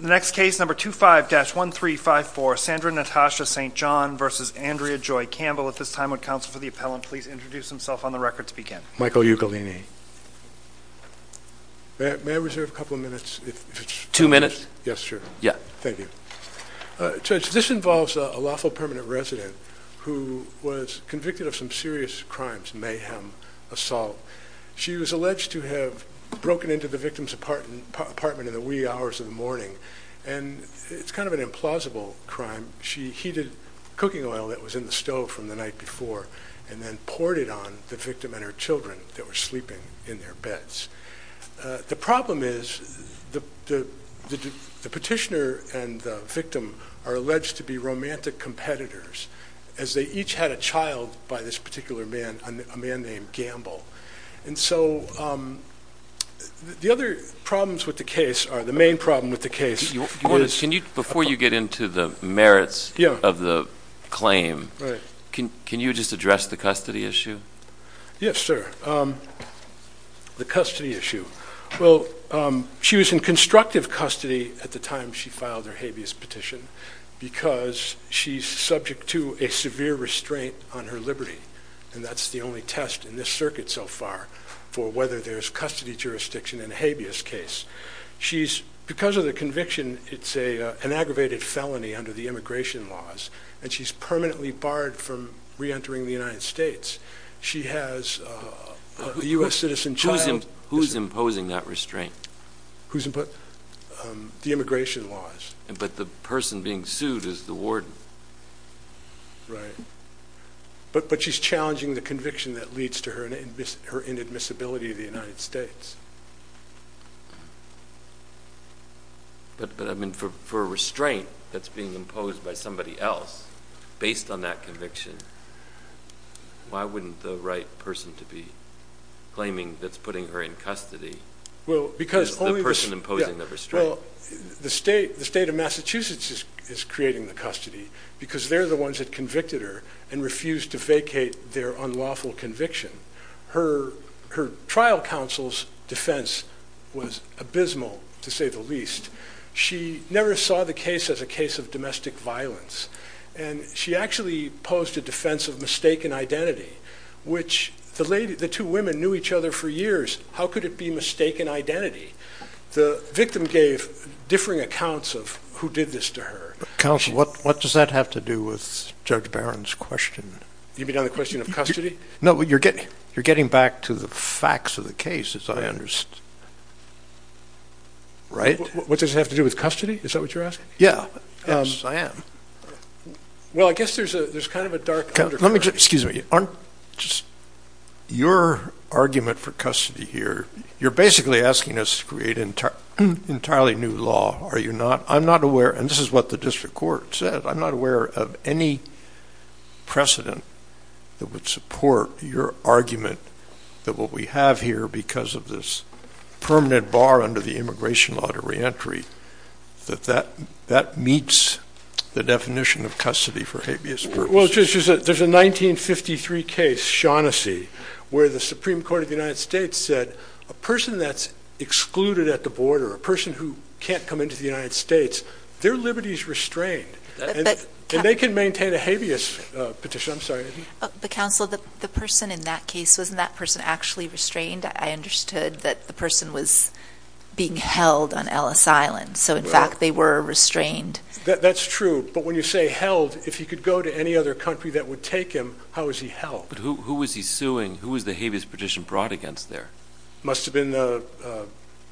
The next case, number 25-1354, Sandra Natasha St. John v. Andrea Joy Campbell. At this time, would counsel for the appellant please introduce himself on the record to Michael Ugolini. May I reserve a couple of minutes? Two minutes? Yes, sure. Yeah. Thank you. Judge, this involves a lawful permanent resident who was convicted of some serious crimes, mayhem, assault. She was alleged to have broken into the victim's apartment in the wee hours of the morning. And it's kind of an implausible crime. She heated cooking oil that was in the stove from the night before and then poured it on the victim and her children that were sleeping in their beds. The problem is the petitioner and the victim are alleged to be romantic competitors as they each had a child by this particular man, a man named Gamble. And so, the other problems with the case, or the main problem with the case is... Before you get into the merits of the claim, can you just address the custody issue? Yes, sir. The custody issue. Well, she was in constructive custody at the time she filed her habeas petition because she's subject to a severe restraint on her liberty. And that's the only test in this circuit so far for whether there's custody jurisdiction in a habeas case. She's... Because of the conviction, it's an aggravated felony under the immigration laws. And she's permanently barred from re-entering the United States. She has a U.S. citizen child. Who's imposing that restraint? The immigration laws. But the person being sued is the warden. Right. But she's challenging the conviction that leads to her inadmissibility of the United States. But, I mean, for a restraint that's being imposed by somebody else based on that conviction, why wouldn't the right person to be claiming that's putting her in custody is the person imposing the restraint? Well, the state of Massachusetts is creating the custody because they're the ones that convicted her and refused to vacate their unlawful conviction. Her trial counsel's defense was abysmal, to say the least. She never saw the case as a case of domestic violence. And she actually posed a defense of mistaken identity, which the two women knew each other for years. How could it be mistaken identity? The victim gave differing accounts of who did this to her. Counsel, what does that have to do with Judge Barron's question? You mean on the question of custody? No, you're getting back to the facts of the case, as I understand. Right? What does it have to do with custody? Is that what you're asking? Yeah. Yes, I am. Well, I guess there's kind of a dark undercurrent. Excuse me. Aren't just your argument for custody here. You're basically asking us to create an entirely new law, are you not? I'm not aware, and this is what the district court said, I'm not aware of any precedent that would support your argument that what we have here because of this permanent bar under the immigration law to reentry, that that meets the definition of custody for habeas purpose. Well, there's a 1953 case, Shaughnessy, where the Supreme Court of the United States said a person that's excluded at the border, a person who can't come into the United States, their liberty is restrained, and they can maintain a habeas petition, I'm sorry. But counsel, the person in that case, wasn't that person actually restrained? I understood that the person was being held on Ellis Island, so in fact they were restrained. That's true, but when you say held, if he could go to any other country that would take him, how was he held? Who was he suing? Who was the habeas petition brought against there? Must have been the,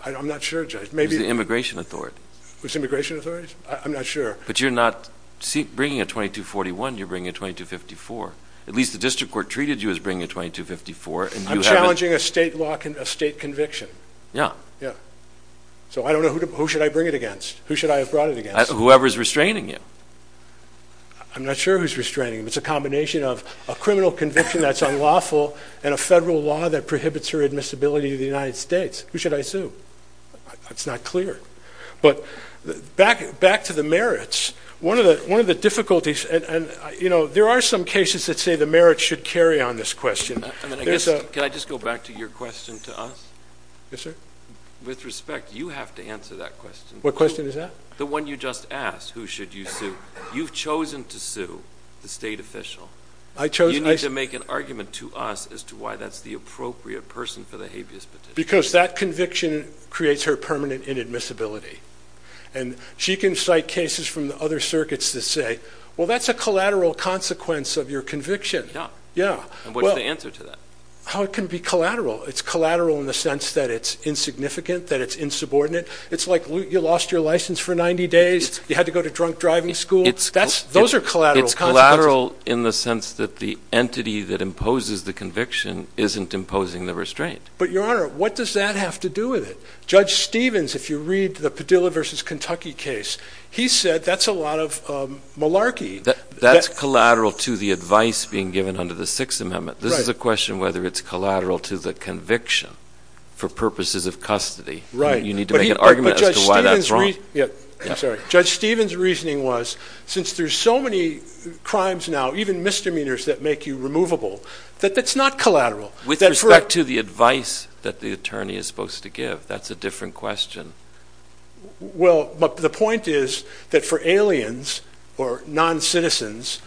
I'm not sure, Judge, maybe- It was the Immigration Authority. It was the Immigration Authority? I'm not sure. But you're not bringing a 2241, you're bringing a 2254. At least the district court treated you as bringing a 2254, and you haven't- I'm challenging a state law, a state conviction. Yeah. Yeah. So I don't know, who should I bring it against? Who should I have brought it against? Whoever's restraining you. I'm not sure who's restraining him. It's a combination of a criminal conviction that's unlawful, and a federal law that prohibits her admissibility to the United States. Who should I sue? It's not clear. But back to the merits. One of the difficulties, and there are some cases that say the merits should carry on this question. Can I just go back to your question to us? Yes, sir. With respect, you have to answer that question. What question is that? The one you just asked, who should you sue? You've chosen to sue the state official. I chose- You need to make an argument to us as to why that's the appropriate person for the habeas petition. Because that conviction creates her permanent inadmissibility. And she can cite cases from the other circuits that say, well, that's a collateral consequence of your conviction. Yeah. Yeah. And what's the answer to that? How it can be collateral. It's collateral in the sense that it's insignificant, that it's insubordinate. It's like you lost your license for 90 days. You had to go to drunk driving school. Those are collateral consequences. It's collateral in the sense that the entity that imposes the conviction isn't imposing the restraint. But your honor, what does that have to do with it? Judge Stevens, if you read the Padilla versus Kentucky case, he said that's a lot of malarkey. That's collateral to the advice being given under the Sixth Amendment. This is a question whether it's collateral to the conviction for purposes of custody. You need to make an argument as to why that's wrong. Judge Stevens' reasoning was, since there's so many crimes now, even misdemeanors that make you removable, that that's not collateral. With respect to the advice that the attorney is supposed to give, that's a different question. Well, the point is that for aliens or non-citizens,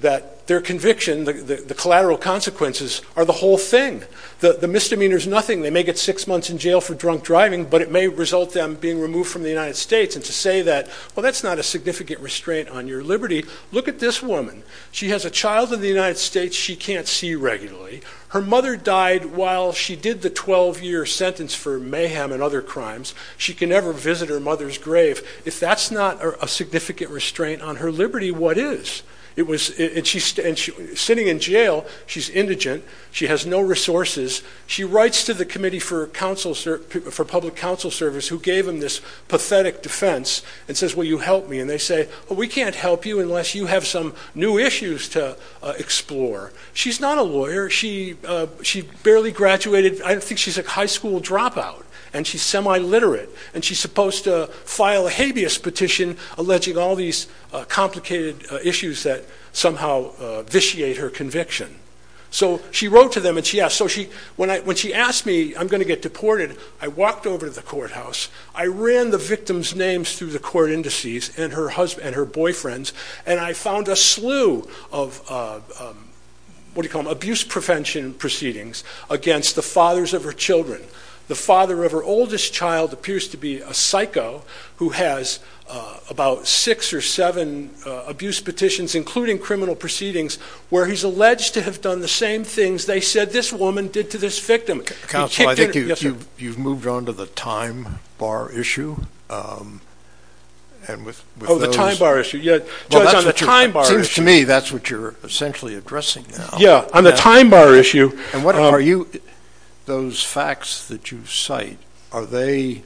that their conviction, the collateral consequences are the whole thing. The misdemeanor's nothing. They may get six months in jail for drunk driving, but it may result in them being removed from the United States. And to say that, well, that's not a significant restraint on your liberty. Look at this woman. She has a child in the United States she can't see regularly. Her mother died while she did the 12-year sentence for mayhem and other crimes. She can never visit her mother's grave. If that's not a significant restraint on her liberty, what is? Sitting in jail, she's indigent. She has no resources. She writes to the Committee for Public Counsel Service, who gave them this pathetic defense, and says, will you help me? And they say, well, we can't help you unless you have some new issues to explore. She's not a lawyer. She barely graduated. I think she's a high school dropout, and she's semi-literate, and she's supposed to file a habeas petition alleging all these complicated issues that somehow vitiate her conviction. So she wrote to them, and she asked. So when she asked me, I'm going to get deported, I walked over to the courthouse. I ran the victim's names through the court indices and her boyfriend's, and I found a slew of, what do you call them, abuse prevention proceedings against the fathers of her children. The father of her oldest child appears to be a psycho who has about six or seven abuse petitions, including criminal proceedings, where he's alleged to have done the same things they said this woman did to this victim. Counsel, I think you've moved on to the time bar issue, and with those... Oh, the time bar issue. Judge, on the time bar issue... Well, that seems to me that's what you're essentially addressing now. Yeah. On the time bar issue... And what are you... Those facts that you cite, are they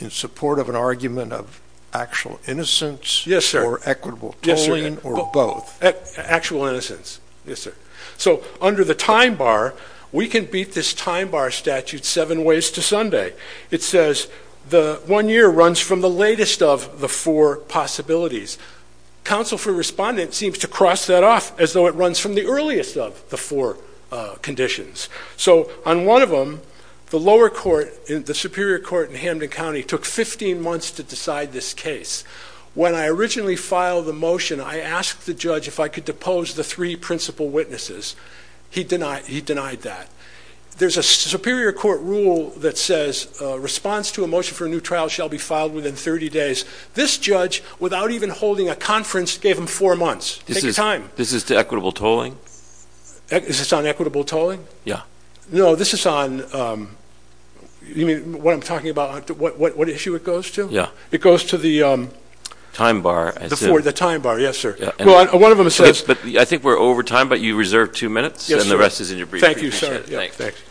in support of an argument of actual innocence or equitable tolling or both? Actual innocence. Yes, sir. So under the time bar, we can beat this time bar statute seven ways to Sunday. It says the one year runs from the latest of the four possibilities. Counsel for Respondent seems to cross that off as though it runs from the earliest of the four conditions. So on one of them, the lower court, the Superior Court in Hamden County, took 15 months to decide this case. When I originally filed the motion, I asked the judge if I could depose the three principal witnesses. He denied that. There's a Superior Court rule that says, response to a motion for a new trial shall be filed within 30 days. This judge, without even holding a conference, gave him four months. Take your time. This is to equitable tolling? Is this on equitable tolling? Yeah. No, this is on... You mean what I'm talking about, what issue it goes to? Yeah. It goes to the... Time bar. The time bar. Yes, sir. Well, one of them says... I think we're over time, but you reserved two minutes, and the rest is in your brief. Thank you, sir. Yeah. Thanks.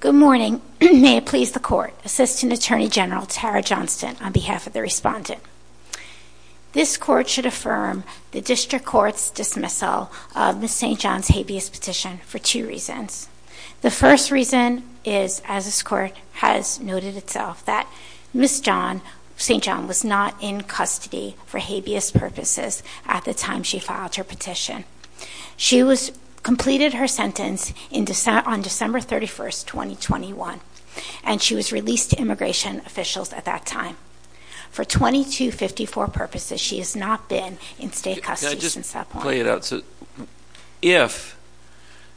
Good morning. May it please the Court, Assistant Attorney General Tara Johnston, on behalf of the Respondent. This Court should affirm the District Court's dismissal of Ms. St. John's habeas petition for two reasons. The first reason is, as this Court has noted itself, that Ms. St. John was not in custody for habeas purposes at the time she filed her petition. She completed her sentence on December 31st, 2021, and she was released to immigration officials at that time. For 2254 purposes, she has not been in state custody since that point. Can I just play it out? So if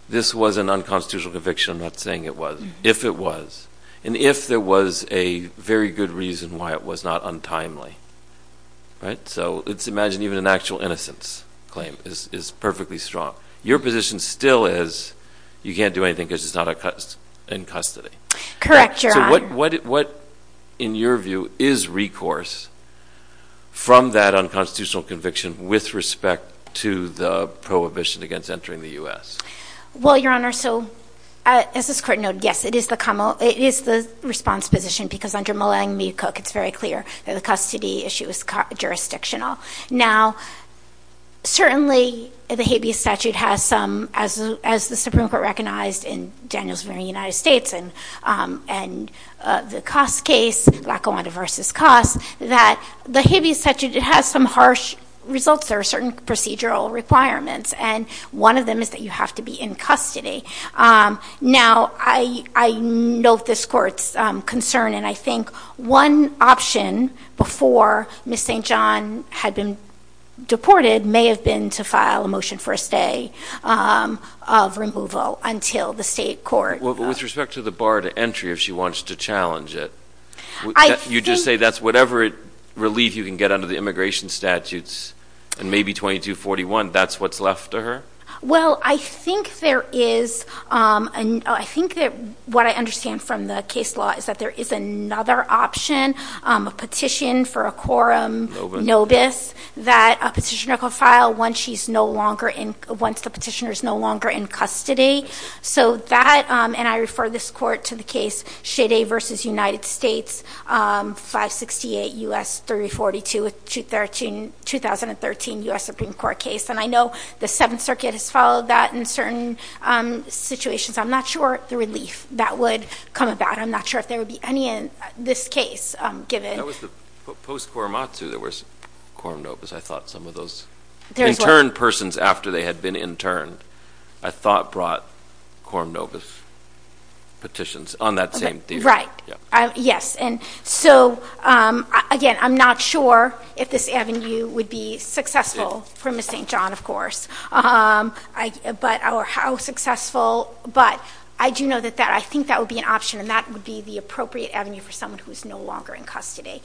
this was an unconstitutional conviction, I'm not saying it was, if it was, and if there was a very good reason why it was not untimely, right? So let's imagine even an actual innocence claim is perfectly strong. Your position still is, you can't do anything because she's not in custody. Correct, Your Honor. What, in your view, is recourse from that unconstitutional conviction with respect to the prohibition against entering the U.S.? Well, Your Honor, so as this Court noted, yes, it is the response position because under Mullang Mee Cook, it's very clear that the custody issue is jurisdictional. Now certainly the habeas statute has some, as the Supreme Court recognized in Daniels Supreme Court in the United States and the Coss case, Lackawanna v. Coss, that the habeas statute has some harsh results, there are certain procedural requirements, and one of them is that you have to be in custody. Now I note this Court's concern, and I think one option before Ms. St. John had been deported may have been to file a motion for a stay of removal until the state court. With respect to the bar to entry, if she wants to challenge it, you just say that's whatever relief you can get under the immigration statutes and maybe 2241, that's what's left to her? Well, I think there is, I think that what I understand from the case law is that there is another option, a petition for a quorum, nobis, that a petitioner could file once she's no longer in, once the petitioner's no longer in custody. So that, and I refer this Court to the case Chede v. United States, 568 U.S. 3042, 2013 U.S. Supreme Court case, and I know the Seventh Circuit has followed that in certain situations. I'm not sure the relief that would come about. And I'm not sure if there would be any in this case, given... That was the post-Quorumatsu, there was quorum nobis, I thought some of those interned persons after they had been interned, I thought brought quorum nobis petitions on that same thesis. Right. Yes. And so, again, I'm not sure if this avenue would be successful for Ms. St. John, of course. But how successful, but I do know that that, I think that would be an option, and that would be the appropriate avenue for someone who's no longer in custody.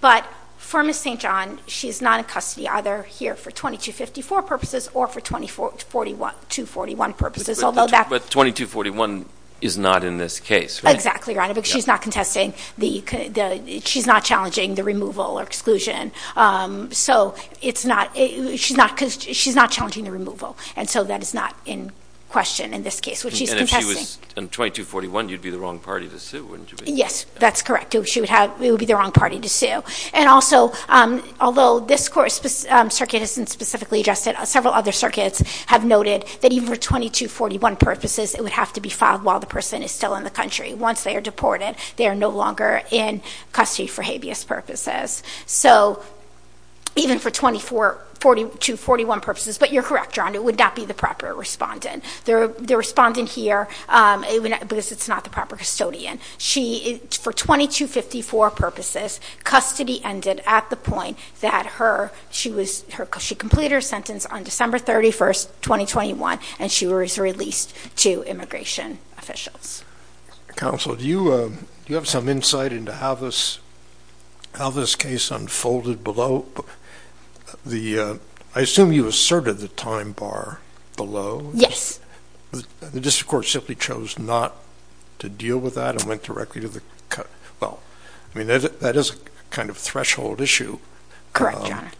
But for Ms. St. John, she's not in custody either here for 2254 purposes or for 2241 purposes, although that... But 2241 is not in this case, right? Exactly, Your Honor, because she's not contesting the, she's not challenging the removal or exclusion. So it's not, she's not, she's not challenging the removal, and so that is not in question in this case, which she's contesting. But if she was in 2241, you'd be the wrong party to sue, wouldn't you be? Yes, that's correct. She would have, it would be the wrong party to sue. And also, although this circuit isn't specifically adjusted, several other circuits have noted that even for 2241 purposes, it would have to be filed while the person is still in the country. Once they are deported, they are no longer in custody for habeas purposes. So even for 2241 purposes, but you're correct, Your Honor, it would not be the proper respondent. The respondent here, because it's not the proper custodian. She, for 2254 purposes, custody ended at the point that her, she was, she completed her sentence on December 31st, 2021, and she was released to immigration officials. Counsel, do you, do you have some insight into how this, how this case unfolded below the, I assume you asserted the time bar below? Yes. The district court simply chose not to deal with that and went directly to the, well, I mean, that is a kind of threshold issue. Correct, Your Honor.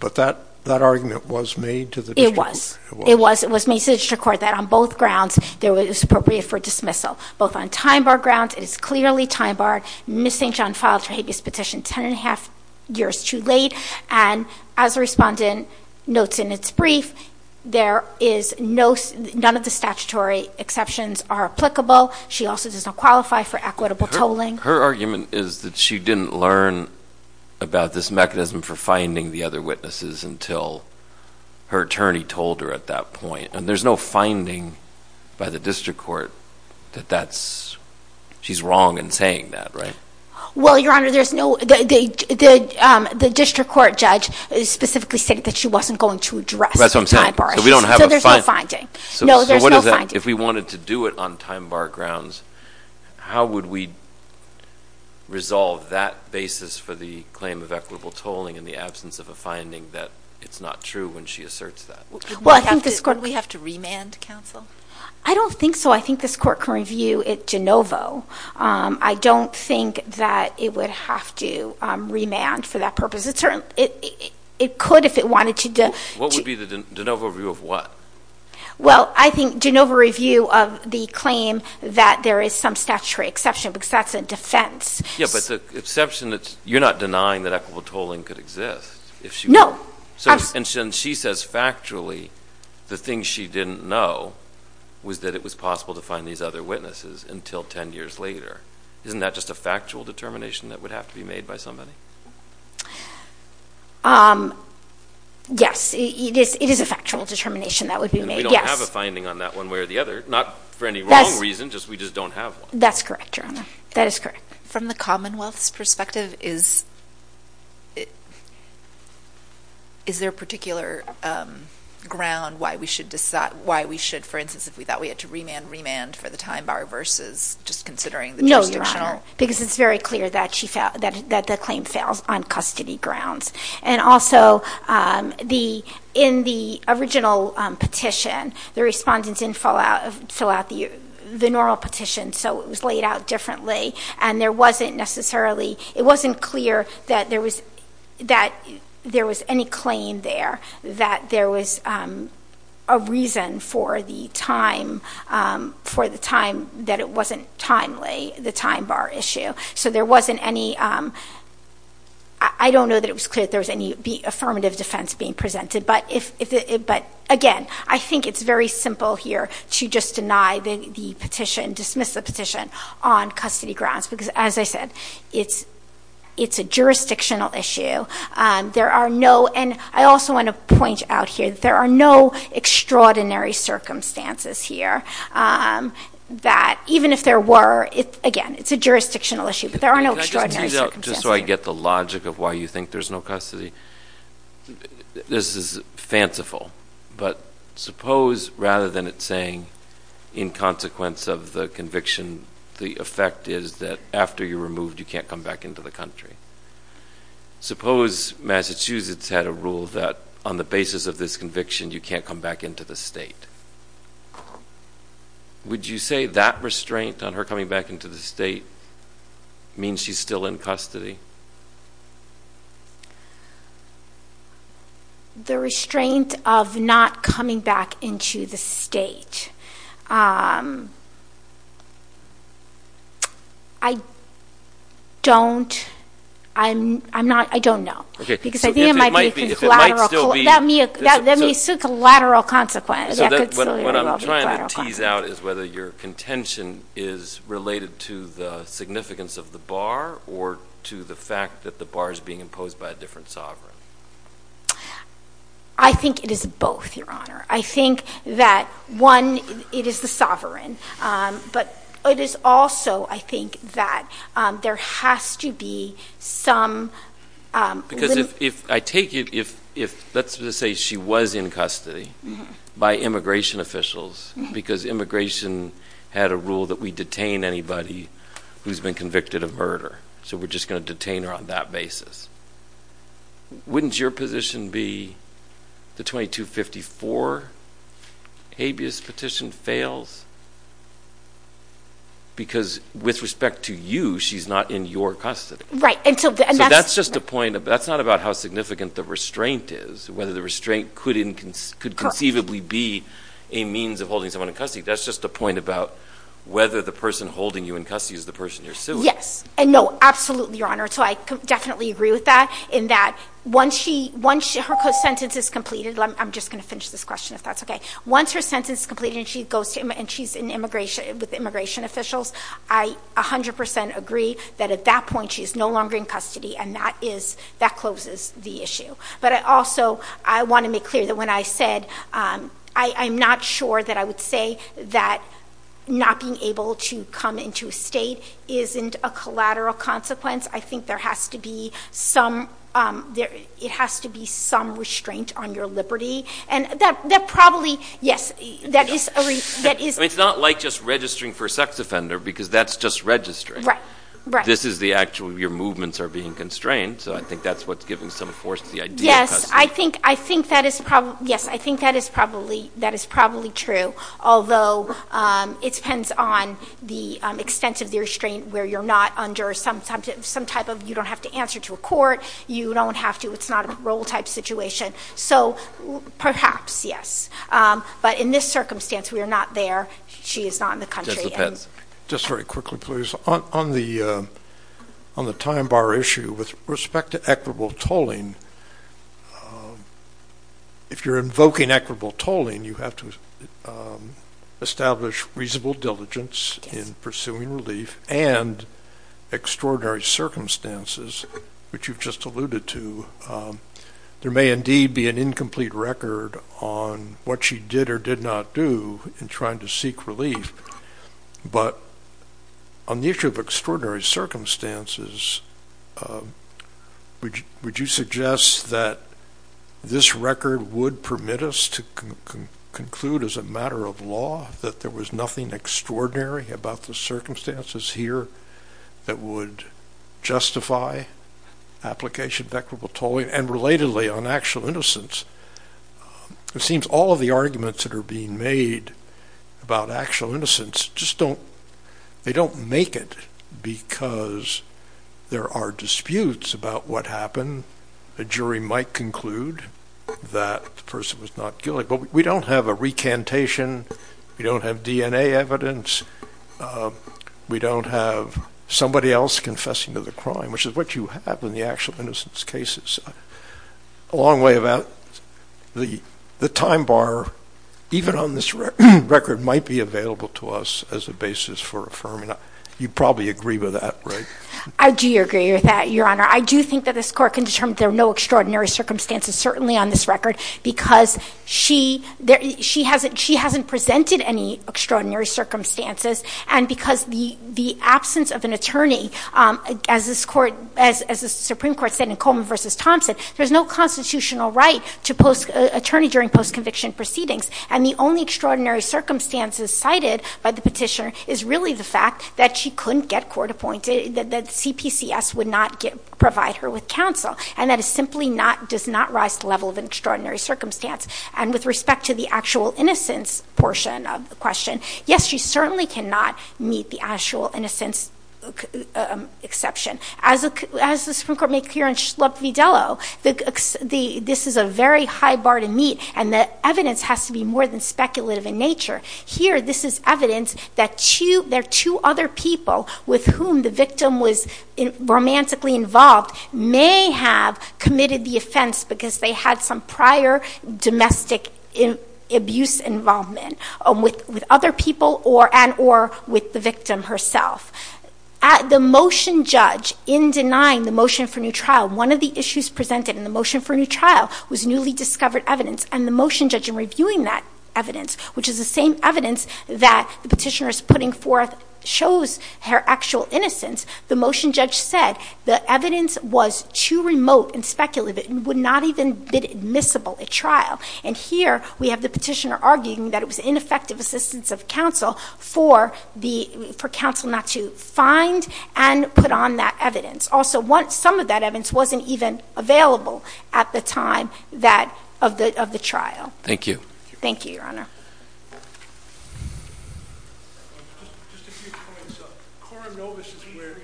But that, that argument was made to the district court? It was. It was, it was made to the district court that on both grounds, there was, it was appropriate for dismissal, both on time bar grounds, it is clearly time barred, Ms. St. John filed her habeas petition 10 and a half years too late. And as a respondent notes in its brief, there is no, none of the statutory exceptions are applicable. She also does not qualify for equitable tolling. Her argument is that she didn't learn about this mechanism for finding the other witnesses until her attorney told her at that point. And there's no finding by the district court that that's, she's wrong in saying that, right? Well, Your Honor, there's no, the district court judge specifically said that she wasn't going to address the time bar issue, so there's no finding. No, there's no finding. So what is that, if we wanted to do it on time bar grounds, how would we resolve that basis for the claim of equitable tolling in the absence of a finding that it's not true when she asserts that? Well, I think this court... Would we have to remand counsel? I don't think so. I think this court can review it de novo. I don't think that it would have to remand for that purpose. It could if it wanted to. What would be the de novo review of what? Well, I think de novo review of the claim that there is some statutory exception, because that's a defense. Yeah, but the exception that's, you're not denying that equitable tolling could exist if she... No. And she says factually the thing she didn't know was that it was possible to find these other witnesses until 10 years later. Isn't that just a factual determination that would have to be made by somebody? Yes, it is a factual determination that would be made. Yes. And we don't have a finding on that one way or the other, not for any wrong reason, just we just don't have one. That's correct, Your Honor. That is correct. From the Commonwealth's perspective, is there a particular ground why we should, for instance, if we thought we had to remand, remand for the time bar versus just considering the jurisdictional? No, Your Honor, because it's very clear that the claim fails on custody grounds. And also, in the original petition, the respondents didn't fill out the normal petition, so it was laid out differently, and there wasn't necessarily, it wasn't clear that there was any claim there, that there was a reason for the time that it wasn't timely, the time bar issue. So there wasn't any, I don't know that it was clear that there was any affirmative defense being presented, but again, I think it's very simple here to just deny the petition, dismiss the petition on custody grounds, because as I said, it's a jurisdictional issue. There are no, and I also want to point out here that there are no extraordinary circumstances here that, even if there were, again, it's a jurisdictional issue, but there are no extraordinary circumstances. Just so I get the logic of why you think there's no custody, this is fanciful, but suppose rather than it saying, in consequence of the conviction, the effect is that after you're moved, you can't come back into the country. Suppose Massachusetts had a rule that on the basis of this conviction, you can't come back into the state. Would you say that restraint on her coming back into the state means she's still in custody? The restraint of not coming back into the state, I don't, I'm not, I don't know, because I think it might be a collateral, that may still be a collateral consequence, that could still be a collateral consequence. What I'm trying to tease out is whether your contention is related to the significance of the bar or to the fact that the bar is being imposed by a different sovereign. I think it is both, Your Honor. I think that, one, it is the sovereign, but it is also, I think, that there has to be some limit. Because if, if, I take it, if, if, let's just say she was in custody by immigration officials because immigration had a rule that we detain anybody who's been convicted of murder. So we're just going to detain her on that basis. Wouldn't your position be the 2254 habeas petition fails? Because with respect to you, she's not in your custody. Right. And so that's just a point, that's not about how significant the restraint is, whether the restraint could in, could conceivably be a means of holding someone in custody. That's just a point about whether the person holding you in custody is the person you're Yes. And no, absolutely, Your Honor. So I definitely agree with that in that once she, once her sentence is completed, I'm just going to finish this question if that's okay. Once her sentence is completed and she goes to, and she's in immigration, with immigration officials, I 100% agree that at that point she's no longer in custody and that is, that closes the issue. But I also, I want to make clear that when I said, I'm not sure that I would say that not being able to come into a state isn't a collateral consequence. I think there has to be some, it has to be some restraint on your liberty. And that, that probably, yes, that is, that is. It's not like just registering for sex offender because that's just registering. Right, right. This is the actual, your movements are being constrained. So I think that's what's giving some force to the idea of custody. I think, I think that is probably, yes, I think that is probably, that is probably true. Although, it depends on the extent of the restraint where you're not under some type of, you don't have to answer to a court, you don't have to, it's not a role type situation. So perhaps, yes. But in this circumstance, we are not there. She is not in the country. Just depends. Just a question, please. On the, on the time bar issue, with respect to equitable tolling, if you're invoking equitable tolling, you have to establish reasonable diligence in pursuing relief and extraordinary circumstances, which you've just alluded to, there may indeed be an incomplete record on what she did or did not do in trying to seek relief. But on the issue of extraordinary circumstances, would you suggest that this record would permit us to conclude as a matter of law that there was nothing extraordinary about the circumstances here that would justify application of equitable tolling and relatedly on actual innocence? It seems all of the arguments that are being made about actual innocence just don't, they don't make it because there are disputes about what happened. A jury might conclude that the person was not guilty. But we don't have a recantation, we don't have DNA evidence, we don't have somebody else confessing to the crime, which is what you have in the actual innocence cases. A long way about the, the time bar, even on this record, might be available to us as a basis for affirming. You probably agree with that, right? I do agree with that, Your Honor. I do think that this Court can determine there are no extraordinary circumstances, certainly on this record, because she, she hasn't, she hasn't presented any extraordinary circumstances and because the, the absence of an attorney, as this Court, as the Supreme Court said in Thompson, there's no constitutional right to post, attorney during post-conviction proceedings. And the only extraordinary circumstances cited by the petitioner is really the fact that she couldn't get court appointed, that, that CPCS would not get, provide her with counsel. And that is simply not, does not rise to the level of an extraordinary circumstance. And with respect to the actual innocence portion of the question, yes, she certainly cannot meet the actual innocence exception. As the, as the Supreme Court made clear in Schlupf v. Dello, the, this is a very high bar to meet and the evidence has to be more than speculative in nature. Here, this is evidence that two, there are two other people with whom the victim was romantically involved may have committed the offense because they had some prior domestic abuse involvement with, with other people or, and, or with the victim herself. At the motion judge, in denying the motion for new trial, one of the issues presented in the motion for new trial was newly discovered evidence. And the motion judge, in reviewing that evidence, which is the same evidence that the petitioner is putting forth shows her actual innocence, the motion judge said the evidence was too remote and speculative, it would not even be admissible at trial. And here, we have the petitioner arguing that it was ineffective assistance of counsel for the, for counsel not to find and put on that evidence. Also, once some of that evidence wasn't even available at the time that, of the, of the trial. Thank you. Thank you, Your Honor. Just a few points. Coram Novus is where...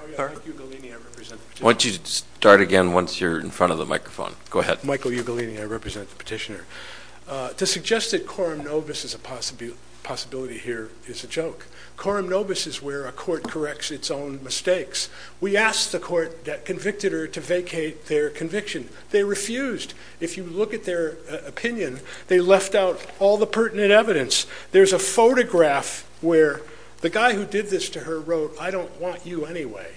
I'm sorry? Michael Ugalini, I represent the petitioner. I want you to start again once you're in front of the microphone. Go ahead. Michael Ugalini, I represent the petitioner. To suggest that Coram Novus is a possibility here is a joke. Coram Novus is where a court corrects its own mistakes. We asked the court that convicted her to vacate their conviction. They refused. If you look at their opinion, they left out all the pertinent evidence. There's a photograph where the guy who did this to her wrote, I don't want you anyway.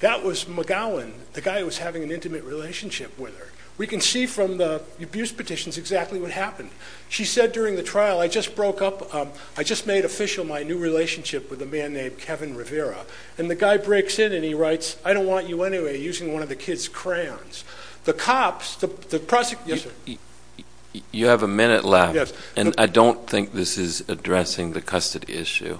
That was McGowan, the guy who was having an intimate relationship with her. We can see from the abuse petitions exactly what happened. She said during the trial, I just broke up, I just made official my new relationship with a man named Kevin Rivera. And the guy breaks in and he writes, I don't want you anyway, using one of the kid's crayons. The cops, the prosecutor... You have a minute left. Yes. And I don't think this is addressing the custody issue.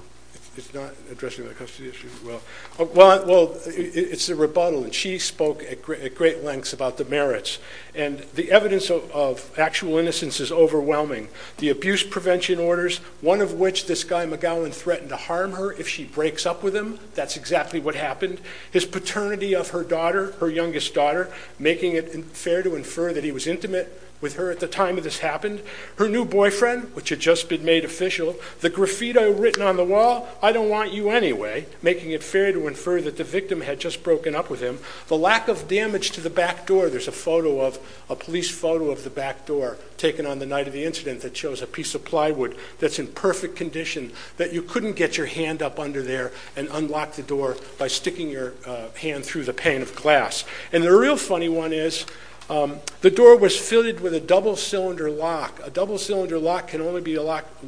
It's not addressing the custody issue, well, it's a rebuttal and she spoke at great lengths about the merits. And the evidence of actual innocence is overwhelming. The abuse prevention orders, one of which this guy McGowan threatened to harm her if she breaks up with him. That's exactly what happened. His paternity of her daughter, her youngest daughter, making it fair to infer that he was intimate with her at the time that this happened. Her new boyfriend, which had just been made official. The graffiti written on the wall, I don't want you anyway, making it fair to infer that the victim had just broken up with him. The lack of damage to the back door, there's a photo of, a police photo of the back door taken on the night of the incident that shows a piece of plywood that's in perfect condition that you couldn't get your hand up under there and unlock the door by sticking your hand through the pane of glass. And the real funny one is, the door was fitted with a double cylinder lock. A double cylinder lock can only be locked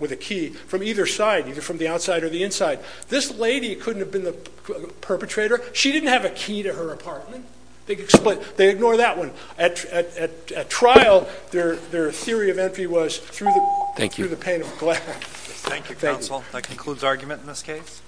with a key from either side, either from the outside or the inside. This lady couldn't have been the perpetrator. She didn't have a key to her apartment. They ignore that one. At trial, their theory of entry was through the pane of glass. Thank you counsel. That concludes argument in this case.